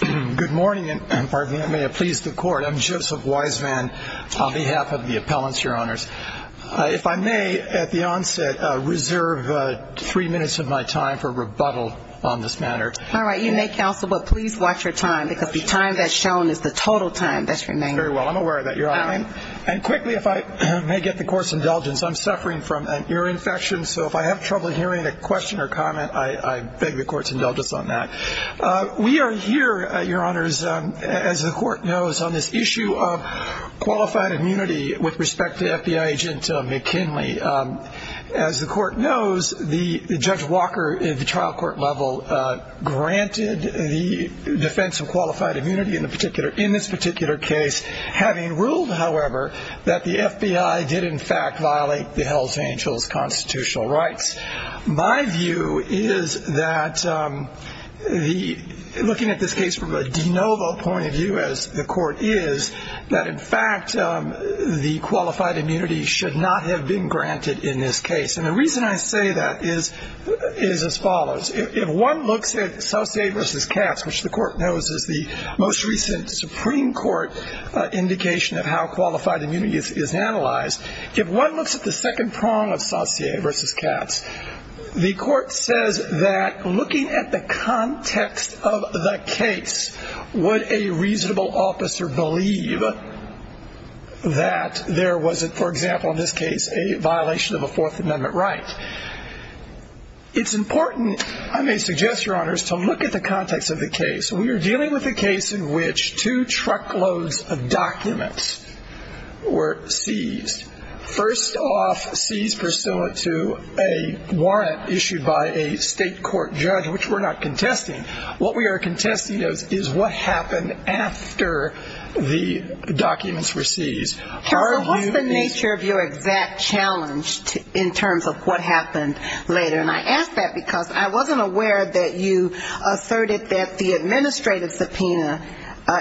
Good morning, and pardon me, may it please the court. I'm Joseph Wiseman on behalf of the appellants, your honors. If I may, at the onset, reserve three minutes of my time for rebuttal on this matter. All right. You may, counsel, but please watch your time, because the time that's shown is the total time that's remaining. Very well. I'm aware of that, your honor. And quickly, if I may get the court's indulgence, I'm suffering from an ear infection, so if I have trouble hearing a question or comment, I beg the court's indulgence on that. We are here, your honors, as the court knows, on this issue of qualified immunity with respect to FBI agent McKinley. As the court knows, Judge Walker at the trial court level granted the defense of qualified immunity in this particular case, having ruled, however, that the FBI did, in fact, violate the Hell's Angels constitutional rights. My view is that looking at this case from a de novo point of view, as the court is, that, in fact, the qualified immunity should not have been granted in this case. And the reason I say that is as follows. If one looks at Saucier v. Katz, which the court knows is the most recent Supreme Court indication of how qualified immunity is analyzed, if one looks at the second prong of Saucier v. Katz, the court says that looking at the context of the case, would a reasonable officer believe that there was, for example, in this case, a violation of a Fourth Amendment right? It's important, I may suggest, your honors, to look at the context of the case. We are dealing with a case in which two truckloads of documents were seized. First off, seized pursuant to a warrant issued by a state court judge, which we're not contesting. What we are contesting is what happened after the documents were seized. So what's the nature of your exact challenge in terms of what happened later? And I ask that because I wasn't aware that you asserted that the administrative subpoena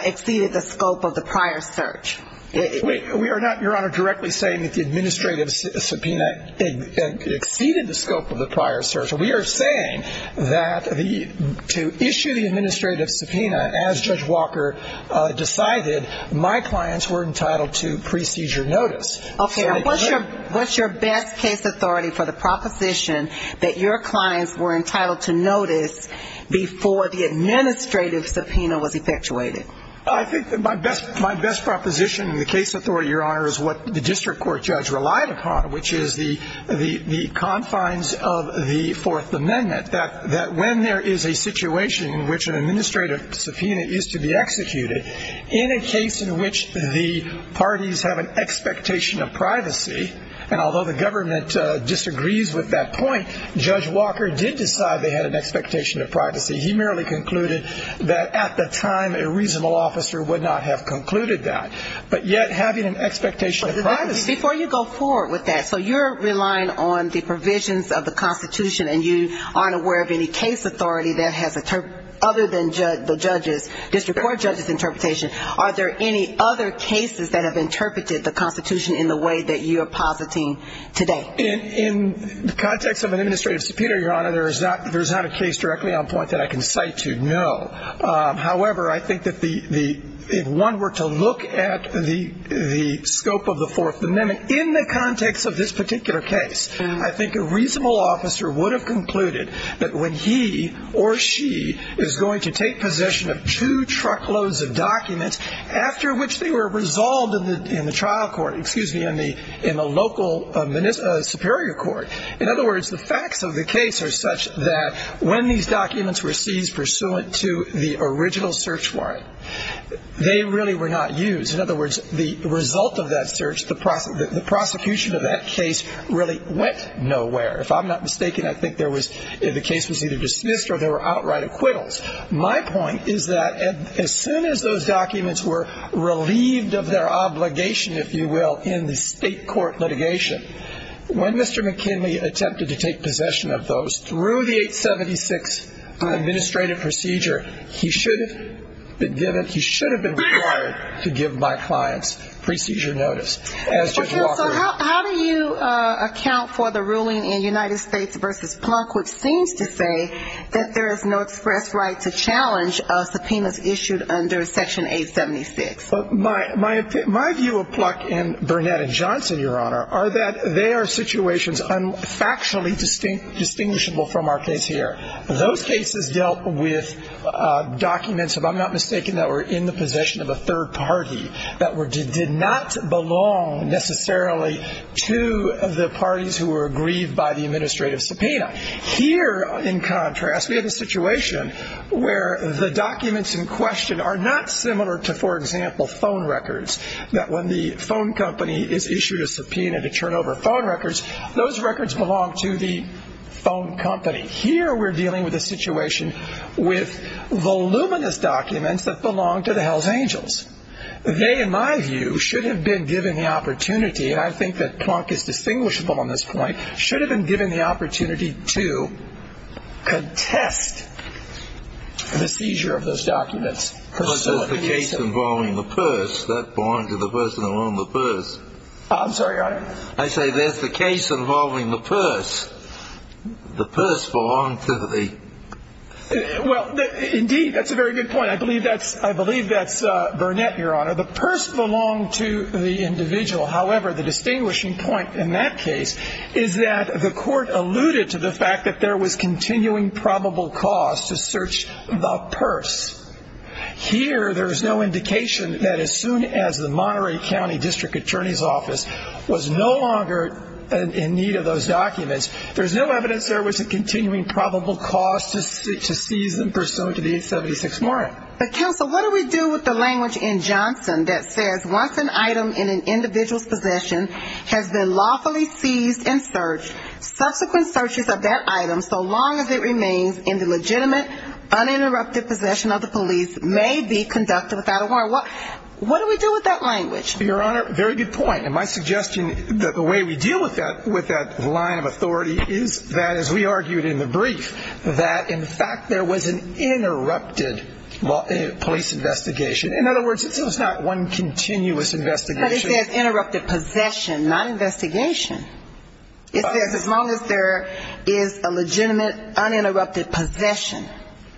exceeded the scope of the prior search. We are not, your honor, directly saying that the administrative subpoena exceeded the scope of the prior search. We are saying that to issue the administrative subpoena, as Judge Walker decided, my clients were entitled to pre-seizure notice. Okay. What's your best case authority for the proposition that your clients were entitled to notice before the administrative subpoena was effectuated? I think my best proposition in the case authority, your honor, is what the district court judge relied upon, which is the confines of the Fourth Amendment, that when there is a situation in which an administrative subpoena is to be executed, in a case in which the parties have an expectation of privacy, and although the government disagrees with that point, Judge Walker did decide they had an expectation of privacy. He merely concluded that at the time a reasonable officer would not have concluded that. But yet having an expectation of privacy. Before you go forward with that, so you're relying on the provisions of the Constitution, and you aren't aware of any case authority that has, other than the judge's, district court judge's interpretation, are there any other cases that have interpreted the Constitution in the way that you are positing today? In the context of an administrative subpoena, your honor, there is not a case directly on point that I can cite to, no. However, I think that if one were to look at the scope of the Fourth Amendment in the context of this particular case, I think a reasonable officer would have concluded that when he or she is going to take possession of two truckloads of documents, after which they were resolved in the trial court, excuse me, in the local superior court, in other words, the facts of the case are such that when these documents were seized pursuant to the original search warrant, they really were not used. In other words, the result of that search, the prosecution of that case really went nowhere. If I'm not mistaken, I think the case was either dismissed or there were outright acquittals. My point is that as soon as those documents were relieved of their obligation, if you will, in the state court litigation, when Mr. McKinley attempted to take possession of those, through the 876 administrative procedure, he should have been given, he should have been required to give my clients pre-seizure notice. Counsel, how do you account for the ruling in United States v. Plunk, which seems to say that there is no express right to challenge subpoenas issued under Section 876? My view of Plunk and Burnett and Johnson, Your Honor, are that they are situations factually distinguishable from our case here. Those cases dealt with documents, if I'm not mistaken, that were in the possession of a third party, that did not belong necessarily to the parties who were aggrieved by the administrative subpoena. But here, in contrast, we have a situation where the documents in question are not similar to, for example, phone records, that when the phone company is issued a subpoena to turn over phone records, those records belong to the phone company. Here we're dealing with a situation with voluminous documents that belong to the Hells Angels. They, in my view, should have been given the opportunity, and I think that Plunk is distinguishable on this point, should have been given the opportunity to contest the seizure of those documents. But there's the case involving the purse. That belonged to the person who owned the purse. I'm sorry, Your Honor? I say there's the case involving the purse. The purse belonged to the... Well, indeed, that's a very good point. I believe that's Burnett, Your Honor. The purse belonged to the individual. However, the distinguishing point in that case is that the court alluded to the fact that there was continuing probable cause to search the purse. Here, there's no indication that as soon as the Monterey County District Attorney's Office was no longer in need of those documents, there's no evidence there was a continuing probable cause to seize them pursuant to the 876 warrant. But, counsel, what do we do with the language in Johnson that says, once an item in an individual's possession has been lawfully seized and searched, subsequent searches of that item, so long as it remains in the legitimate uninterrupted possession of the police, may be conducted without a warrant. What do we do with that language? Your Honor, very good point. And my suggestion, the way we deal with that line of authority is that, as we argued in the brief, that, in fact, there was an interrupted police investigation. In other words, it's not one continuous investigation. But it says interrupted possession, not investigation. It says as long as there is a legitimate uninterrupted possession.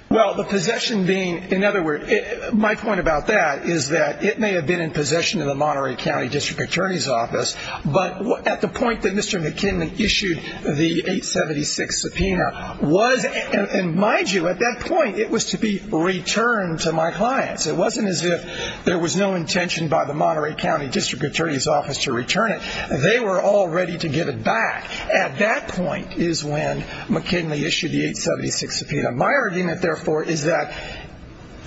Well, the possession being, in other words, my point about that is that it may have been in possession of the Monterey County District Attorney's Office, but at the point that Mr. McKinley issued the 876 subpoena, was, and mind you, at that point, it was to be returned to my clients. It wasn't as if there was no intention by the Monterey County District Attorney's Office to return it. They were all ready to give it back. At that point is when McKinley issued the 876 subpoena. My argument, therefore, is that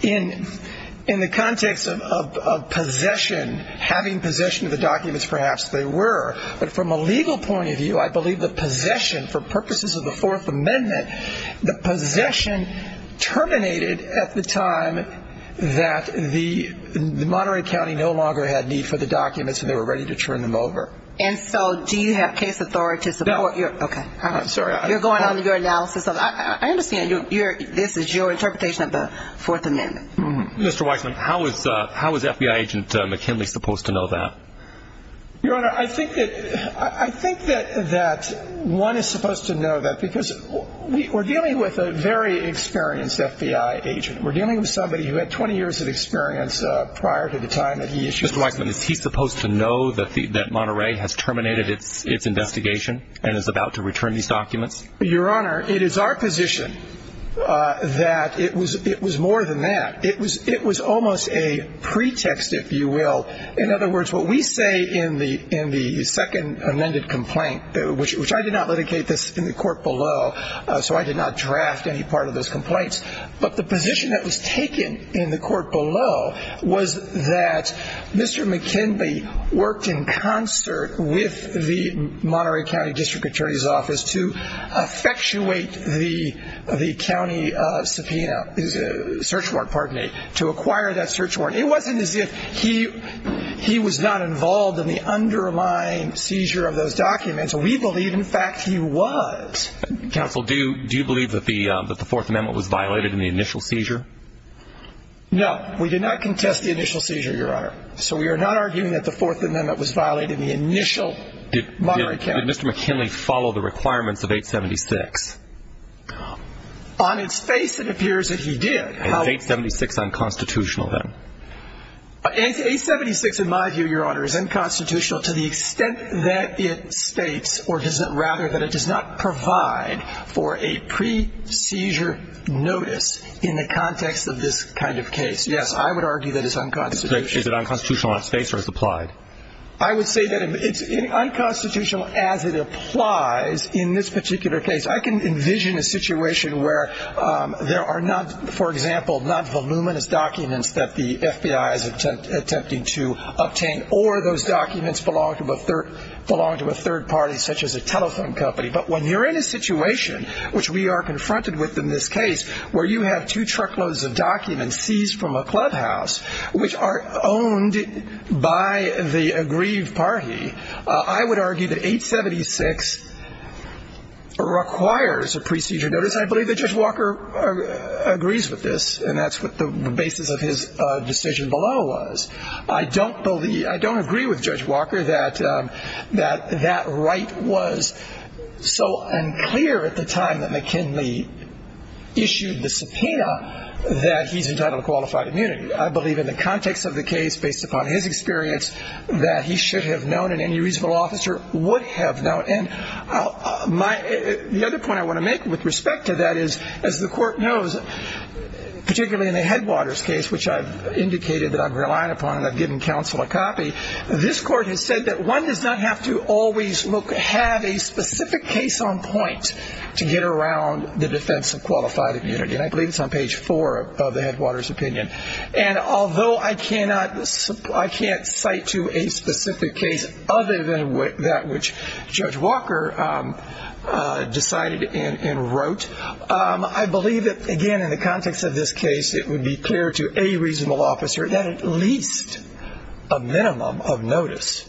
in the context of possession, having possession of the documents, perhaps they were. But from a legal point of view, I believe the possession, for purposes of the Fourth Amendment, the possession terminated at the time that the Monterey County no longer had need for the documents and they were ready to turn them over. And so do you have case authorities? No. Okay. I'm sorry. You're going on your analysis. I understand this is your interpretation of the Fourth Amendment. Mr. Weissman, how is FBI agent McKinley supposed to know that? Your Honor, I think that one is supposed to know that because we're dealing with a very experienced FBI agent. We're dealing with somebody who had 20 years of experience prior to the time that he issued the document. Mr. Weissman, is he supposed to know that Monterey has terminated its investigation and is about to return these documents? Your Honor, it is our position that it was more than that. It was almost a pretext, if you will. In other words, what we say in the second amended complaint, which I did not litigate this in the court below, so I did not draft any part of those complaints, but the position that was taken in the court below was that Mr. McKinley worked in concert with the Monterey County District Attorney's Office to effectuate the county search warrant to acquire that search warrant. It wasn't as if he was not involved in the underlying seizure of those documents. We believe, in fact, he was. Counsel, do you believe that the Fourth Amendment was violated in the initial seizure? No. We did not contest the initial seizure, Your Honor. So we are not arguing that the Fourth Amendment was violated in the initial Monterey County. Did Mr. McKinley follow the requirements of 876? On its face, it appears that he did. Is 876 unconstitutional, then? 876, in my view, Your Honor, is unconstitutional to the extent that it states, or rather, that it does not provide for a pre-seizure notice in the context of this kind of case. Yes, I would argue that it's unconstitutional. Is it unconstitutional on its face or is it applied? I would say that it's unconstitutional as it applies in this particular case. I can envision a situation where there are not, for example, not voluminous documents that the FBI is attempting to obtain, or those documents belong to a third party, such as a telephone company. But when you're in a situation, which we are confronted with in this case, where you have two truckloads of documents seized from a clubhouse, which are owned by the aggrieved party, I would argue that 876 requires a pre-seizure notice. I believe that Judge Walker agrees with this, and that's what the basis of his decision below was. I don't believe, I don't agree with Judge Walker that that right was so unclear at the time that McKinley issued the subpoena that he's entitled to qualified immunity. I believe in the context of the case, based upon his experience, that he should have known and any reasonable officer would have known. And the other point I want to make with respect to that is, as the Court knows, particularly in the Headwaters case, which I've indicated that I'm relying upon and I've given counsel a copy, this Court has said that one does not have to always look, have a specific case on point to get around the defense of qualified immunity. And I believe it's on page four of the Headwaters opinion. And although I can't cite to a specific case other than that which Judge Walker decided and wrote, I believe that, again, in the context of this case, it would be clear to any reasonable officer that at least a minimum of notice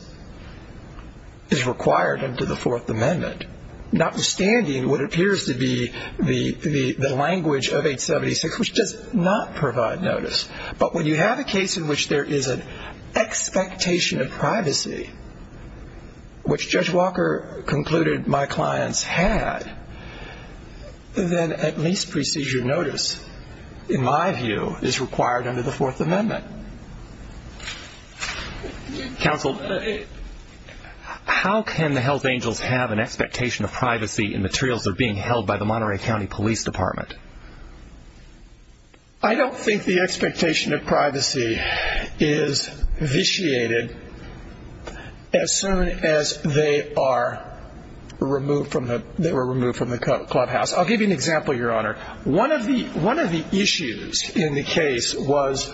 is required under the Fourth Amendment, notwithstanding what appears to be the language of 876, which does not provide notice. But when you have a case in which there is an expectation of privacy, which Judge Walker concluded my clients had, then at least procedure notice, in my view, is required under the Fourth Amendment. Counsel, how can the health angels have an expectation of privacy in materials that are being held by the Monterey County Police Department? I don't think the expectation of privacy is vitiated as soon as they are removed from the clubhouse. One of the issues in the case was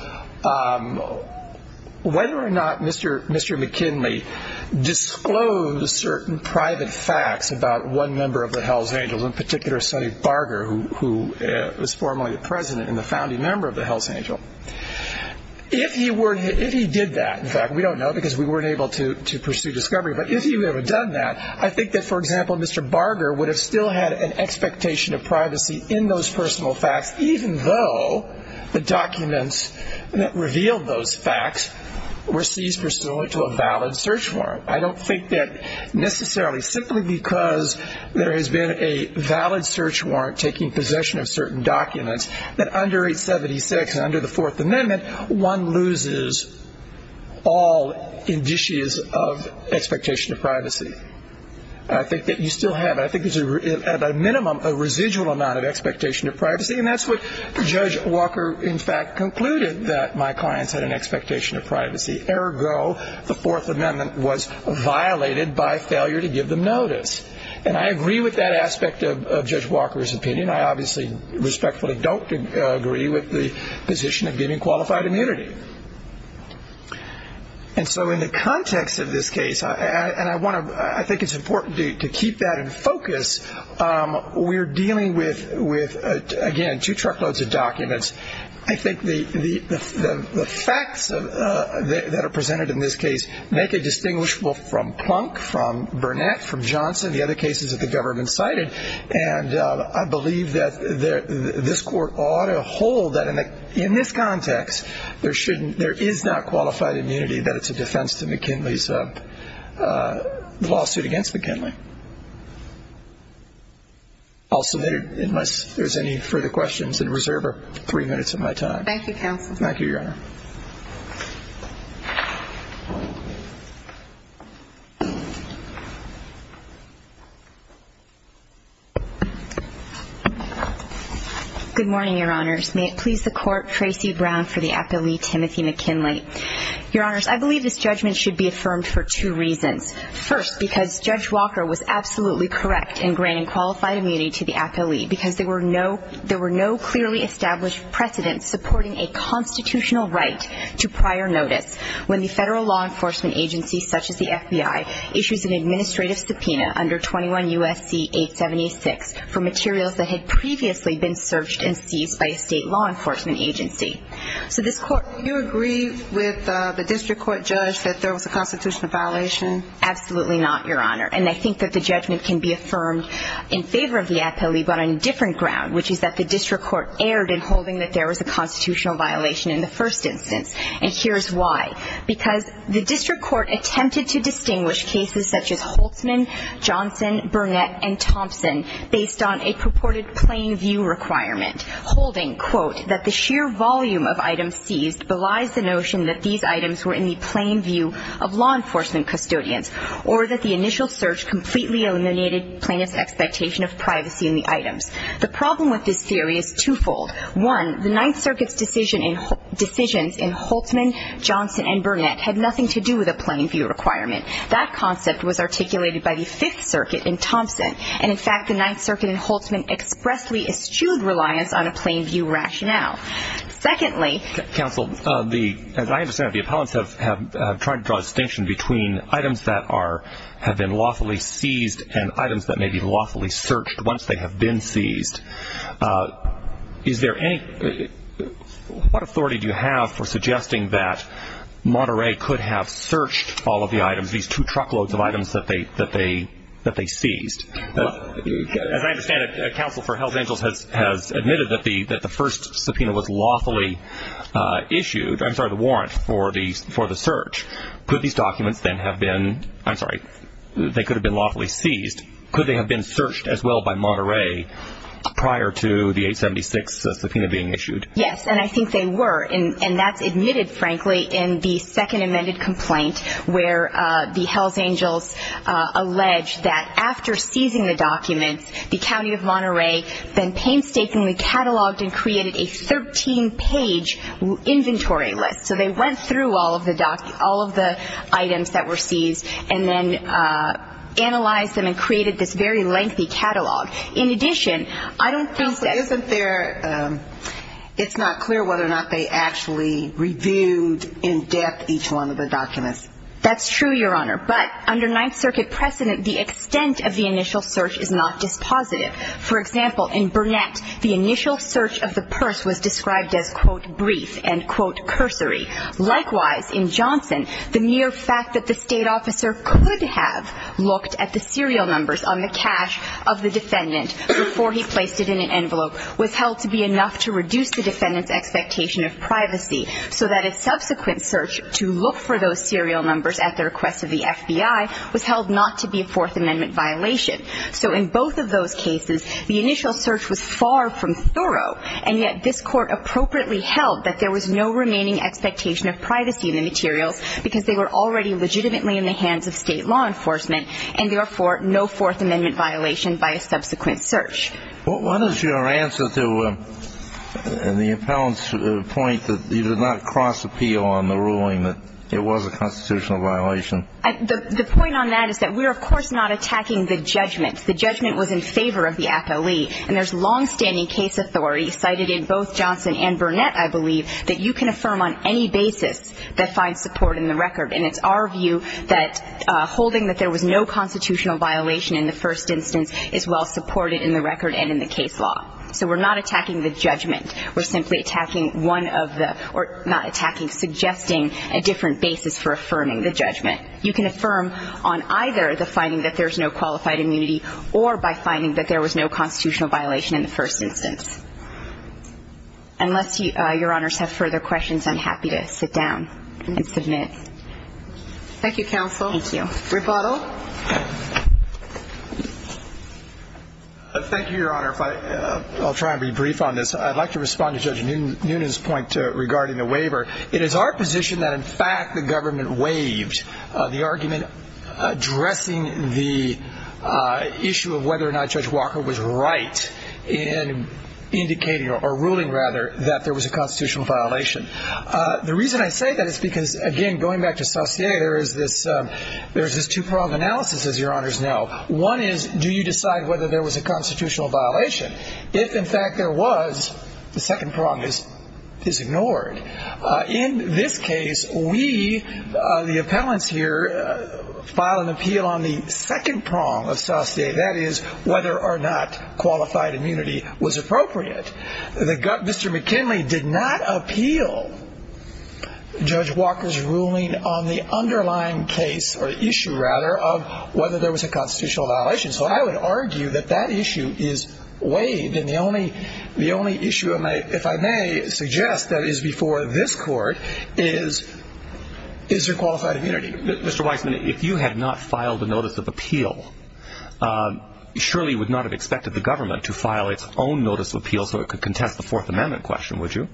whether or not Mr. McKinley disclosed certain private facts about one member of the health angels, in particular Sonny Barger, who was formerly the president and the founding member of the health angel. If he did that, in fact, we don't know because we weren't able to pursue discovery, but if he would have done that, I think that, for example, Mr. Barger would have still had an expectation of privacy in those personal facts, even though the documents that revealed those facts were seized pursuant to a valid search warrant. I don't think that necessarily, simply because there has been a valid search warrant taking possession of certain documents, that under 876 and under the Fourth Amendment, one loses all indices of expectation of privacy. I think that you still have it. I think there's, at a minimum, a residual amount of expectation of privacy, and that's what Judge Walker, in fact, concluded, that my clients had an expectation of privacy. Ergo, the Fourth Amendment was violated by failure to give them notice. And I agree with that aspect of Judge Walker's opinion. I obviously respectfully don't agree with the position of giving qualified immunity. And so in the context of this case, and I think it's important to keep that in focus, we're dealing with, again, two truckloads of documents. I think the facts that are presented in this case make it distinguishable from Plunk, from Burnett, from Johnson, the other cases that the government cited, and I believe that this Court ought to hold that in this context, there is not qualified immunity, that it's a defense to McKinley's lawsuit against McKinley. I'll submit it unless there's any further questions, and reserve three minutes of my time. Thank you, counsel. Thank you, Your Honor. Good morning, Your Honors. May it please the Court, Tracy Brown for the appealee, Timothy McKinley. Your Honors, I believe this judgment should be affirmed for two reasons. First, because Judge Walker was absolutely correct in granting qualified immunity to the appealee, because there were no clearly established precedents supporting a constitutional right to prior notice under 21 U.S.C. 876 for materials that had previously been searched and seized by a state law enforcement agency. So this Court — Do you agree with the district court judge that there was a constitutional violation? Absolutely not, Your Honor, and I think that the judgment can be affirmed in favor of the appealee, but on a different ground, which is that the district court erred in holding that there was a constitutional violation in the first instance, and here's why. Because the district court attempted to distinguish cases such as Holtzman, Johnson, Burnett, and Thompson based on a purported plain view requirement, holding, quote, that the sheer volume of items seized belies the notion that these items were in the plain view of law enforcement custodians, or that the initial search completely eliminated plaintiff's expectation of privacy in the items. The problem with this theory is twofold. One, the Ninth Circuit's decision in — decisions in Holtzman, Johnson, and Burnett had nothing to do with a plain view requirement. That concept was articulated by the Fifth Circuit in Thompson, and, in fact, the Ninth Circuit in Holtzman expressly eschewed reliance on a plain view rationale. Secondly — Counsel, the — as I understand it, the appellants have tried to draw a distinction between items that are — have been lawfully seized and items that may be lawfully searched once they have been seized. Is there any — what authority do you have for suggesting that Monterey could have searched all of the items, these two truckloads of items that they seized? As I understand it, counsel for Hells Angels has admitted that the first subpoena was lawfully issued — I'm sorry, the warrant for the search. Could these documents then have been — I'm sorry, they could have been lawfully seized. Could they have been searched as well by Monterey prior to the 876 subpoena being issued? Yes, and I think they were, and that's admitted, frankly, in the second amended complaint where the Hells Angels allege that after seizing the documents, the county of Monterey then painstakingly catalogued and created a 13-page inventory list. So they went through all of the items that were seized and then analyzed them and created this very lengthy catalog. In addition, I don't think that — Counsel, isn't there — it's not clear whether or not they actually reviewed in depth each one of the documents. That's true, Your Honor, but under Ninth Circuit precedent, the extent of the initial search is not dispositive. For example, in Burnett, the initial search of the purse was described as, quote, brief and, quote, cursory. Likewise, in Johnson, the mere fact that the state officer could have looked at the serial numbers on the cash of the defendant before he placed it in an envelope was held to be enough to reduce the defendant's expectation of privacy so that a subsequent search to look for those serial numbers at the request of the FBI was held not to be a Fourth Amendment violation. So in both of those cases, the initial search was far from thorough, and yet this Court appropriately held that there was no remaining expectation of privacy in the materials because they were already legitimately in the hands of state law enforcement and, therefore, no Fourth Amendment violation by a subsequent search. What is your answer to the appellant's point that you did not cross-appeal on the ruling that it was a constitutional violation? The point on that is that we're, of course, not attacking the judgment. The judgment was in favor of the appellee, and there's longstanding case authority cited in both Johnson and Burnett, I believe, that you can affirm on any basis that finds support in the record. And it's our view that holding that there was no constitutional violation in the first instance is well supported in the record and in the case law. So we're not attacking the judgment. We're simply attacking one of the or not attacking, suggesting a different basis for affirming the judgment. You can affirm on either the finding that there's no qualified immunity or by finding that there was no constitutional violation in the first instance. Unless Your Honors have further questions, I'm happy to sit down and submit. Thank you, counsel. Thank you. Rebuttal. Thank you, Your Honor. I'll try and be brief on this. I'd like to respond to Judge Noonan's point regarding the waiver. It is our position that, in fact, the government waived the argument addressing the issue of whether or not Judge Walker was right in indicating or ruling, rather, that there was a constitutional violation. The reason I say that is because, again, going back to Saucier, there is this two-pronged analysis, as Your Honors know. One is do you decide whether there was a constitutional violation? If, in fact, there was, the second prong is ignored. In this case, we, the appellants here, file an appeal on the second prong of Saucier, that is whether or not qualified immunity was appropriate. Mr. McKinley did not appeal Judge Walker's ruling on the underlying case, or issue, rather, of whether there was a constitutional violation. So I would argue that that issue is waived. And the only issue, if I may suggest, that is before this Court is, is there qualified immunity? Mr. Weisman, if you had not filed a notice of appeal, surely you would not have expected the government to file its own notice of appeal so it could contest the Fourth Amendment question, would you?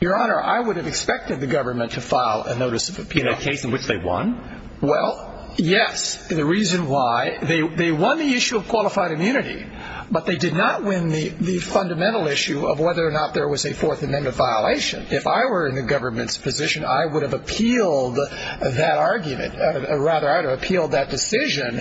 Your Honor, I would have expected the government to file a notice of appeal. In a case in which they won? Well, yes. The reason why, they won the issue of qualified immunity, but they did not win the fundamental issue of whether or not there was a Fourth Amendment violation. If I were in the government's position, I would have appealed that argument, or rather, I would have appealed that decision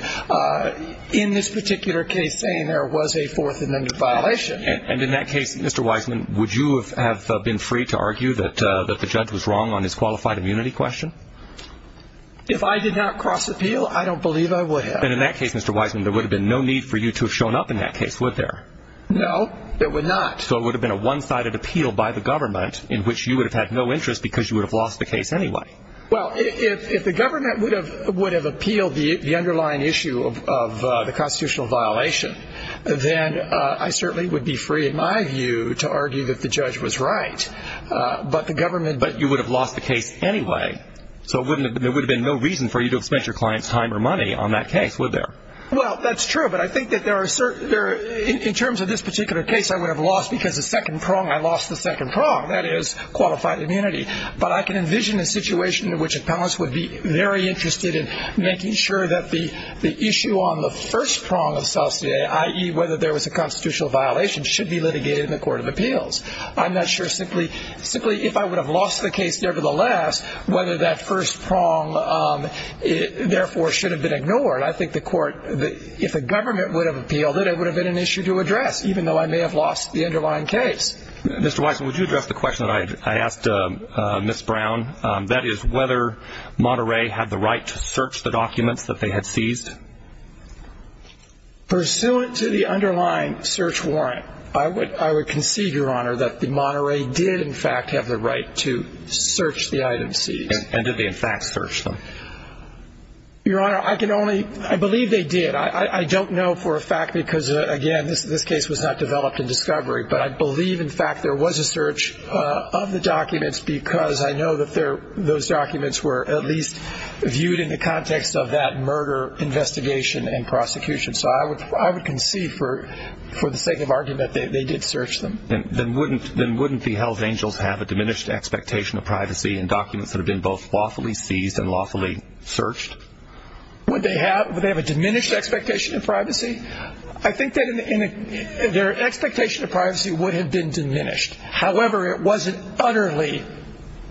in this particular case, saying there was a Fourth Amendment violation. And in that case, Mr. Weisman, would you have been free to argue that the judge was wrong on his qualified immunity question? If I did not cross appeal, I don't believe I would have. And in that case, Mr. Weisman, there would have been no need for you to have shown up in that case, would there? No, there would not. So it would have been a one-sided appeal by the government, in which you would have had no interest because you would have lost the case anyway. Well, if the government would have appealed the underlying issue of the constitutional violation, then I certainly would be free, in my view, to argue that the judge was right. But you would have lost the case anyway, so there would have been no reason for you to have spent your client's time or money on that case, would there? Well, that's true, but I think that in terms of this particular case, I would have lost because the second prong, I lost the second prong, that is, qualified immunity. But I can envision a situation in which appellants would be very interested in making sure that the issue on the first prong of CELCIE, i.e., whether there was a constitutional violation, should be litigated in the Court of Appeals. I'm not sure simply if I would have lost the case, nevertheless, whether that first prong, therefore, should have been ignored. I think the Court, if the government would have appealed it, it would have been an issue to address, even though I may have lost the underlying case. Mr. Weisen, would you address the question that I asked Ms. Brown, that is whether Monterey had the right to search the documents that they had seized? Pursuant to the underlying search warrant, I would concede, Your Honor, that the Monterey did, in fact, have the right to search the item seized. And did they, in fact, search them? Your Honor, I can only – I believe they did. I don't know for a fact because, again, this case was not developed in discovery, but I believe, in fact, there was a search of the documents because I know that those documents were at least viewed in the context of that murder investigation and prosecution. So I would concede for the sake of argument that they did search them. Then wouldn't the Hells Angels have a diminished expectation of privacy in documents that have been both lawfully seized and lawfully searched? Would they have a diminished expectation of privacy? I think that their expectation of privacy would have been diminished. However, it wasn't utterly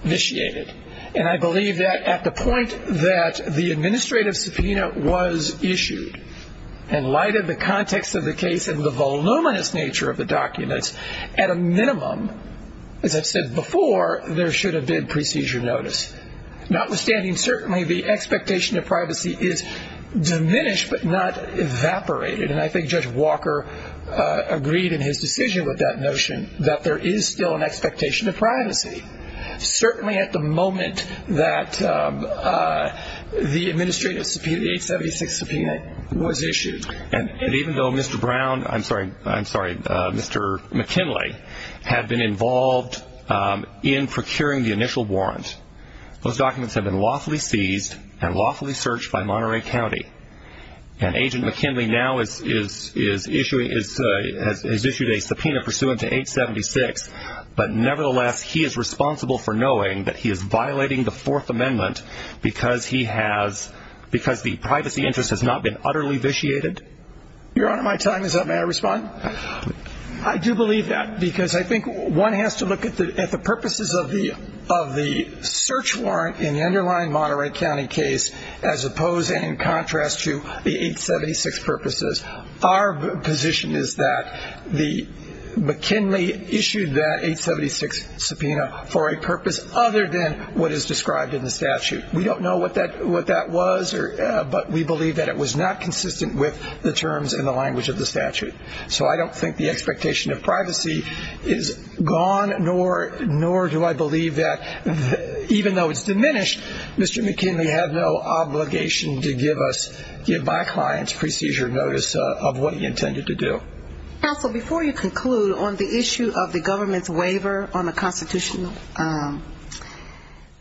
initiated. And I believe that at the point that the administrative subpoena was issued and lighted the context of the case and the voluminous nature of the documents, at a minimum, as I've said before, there should have been procedure notice. Notwithstanding, certainly the expectation of privacy is diminished but not evaporated. And I think Judge Walker agreed in his decision with that notion that there is still an expectation of privacy. Certainly at the moment that the administrative subpoena, the 876 subpoena was issued. And even though Mr. Brown, I'm sorry, Mr. McKinley had been involved in procuring the initial warrant, those documents had been lawfully seized and lawfully searched by Monterey County. And Agent McKinley now has issued a subpoena pursuant to 876, but nevertheless he is responsible for knowing that he is violating the Fourth Amendment because the privacy interest has not been utterly vitiated. Your Honor, my time is up. May I respond? I do believe that because I think one has to look at the purposes of the search warrant in the underlying Monterey County case as opposed and in contrast to the 876 purposes. Our position is that McKinley issued that 876 subpoena for a purpose other than what is described in the statute. We don't know what that was, but we believe that it was not consistent with the terms and the language of the statute. So I don't think the expectation of privacy is gone, nor do I believe that even though it's diminished, Mr. McKinley has no obligation to give my client's procedure notice of what he intended to do. Counsel, before you conclude, on the issue of the government's waiver on the constitutional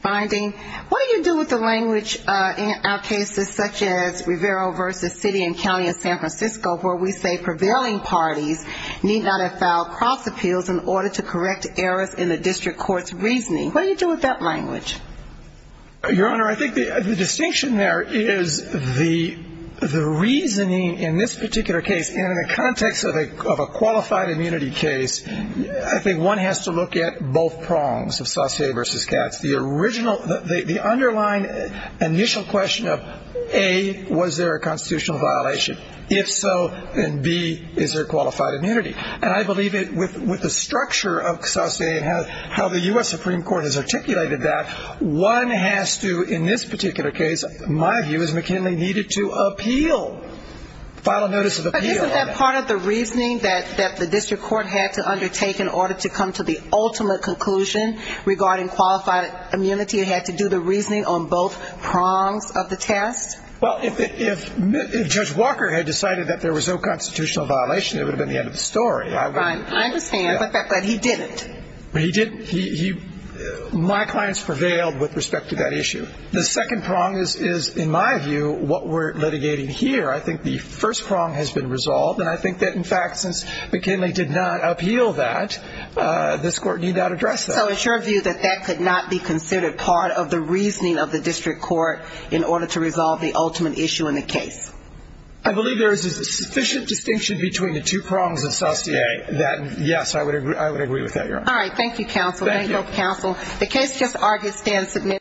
finding, what do you do with the language in our cases such as Rivera v. City and County of San Francisco where we say prevailing parties need not have filed cross appeals in order to correct errors in the district court's reasoning? What do you do with that language? Your Honor, I think the distinction there is the reasoning in this particular case and in the context of a qualified immunity case, I think one has to look at both prongs of Saucier v. Katz. The underlying initial question of A, was there a constitutional violation? If so, then B, is there qualified immunity? And I believe with the structure of Saucier and how the U.S. Supreme Court has articulated that, one has to in this particular case, my view is McKinley needed to appeal, file a notice of appeal. But isn't that part of the reasoning that the district court had to undertake in order to come to the ultimate conclusion regarding qualified immunity? It had to do the reasoning on both prongs of the test? Well, if Judge Walker had decided that there was no constitutional violation, it would have been the end of the story. I understand, but he didn't. He didn't. My clients prevailed with respect to that issue. The second prong is, in my view, what we're litigating here. I think the first prong has been resolved, and I think that in fact since McKinley did not appeal that, this Court need not address that. So it's your view that that could not be considered part of the reasoning of the district court in order to resolve the ultimate issue in the case? I believe there is a sufficient distinction between the two prongs of South CA that, yes, I would agree with that, Your Honor. All right. Thank you, counsel. Thank you. Thank you, counsel. The case just argued stands submitted.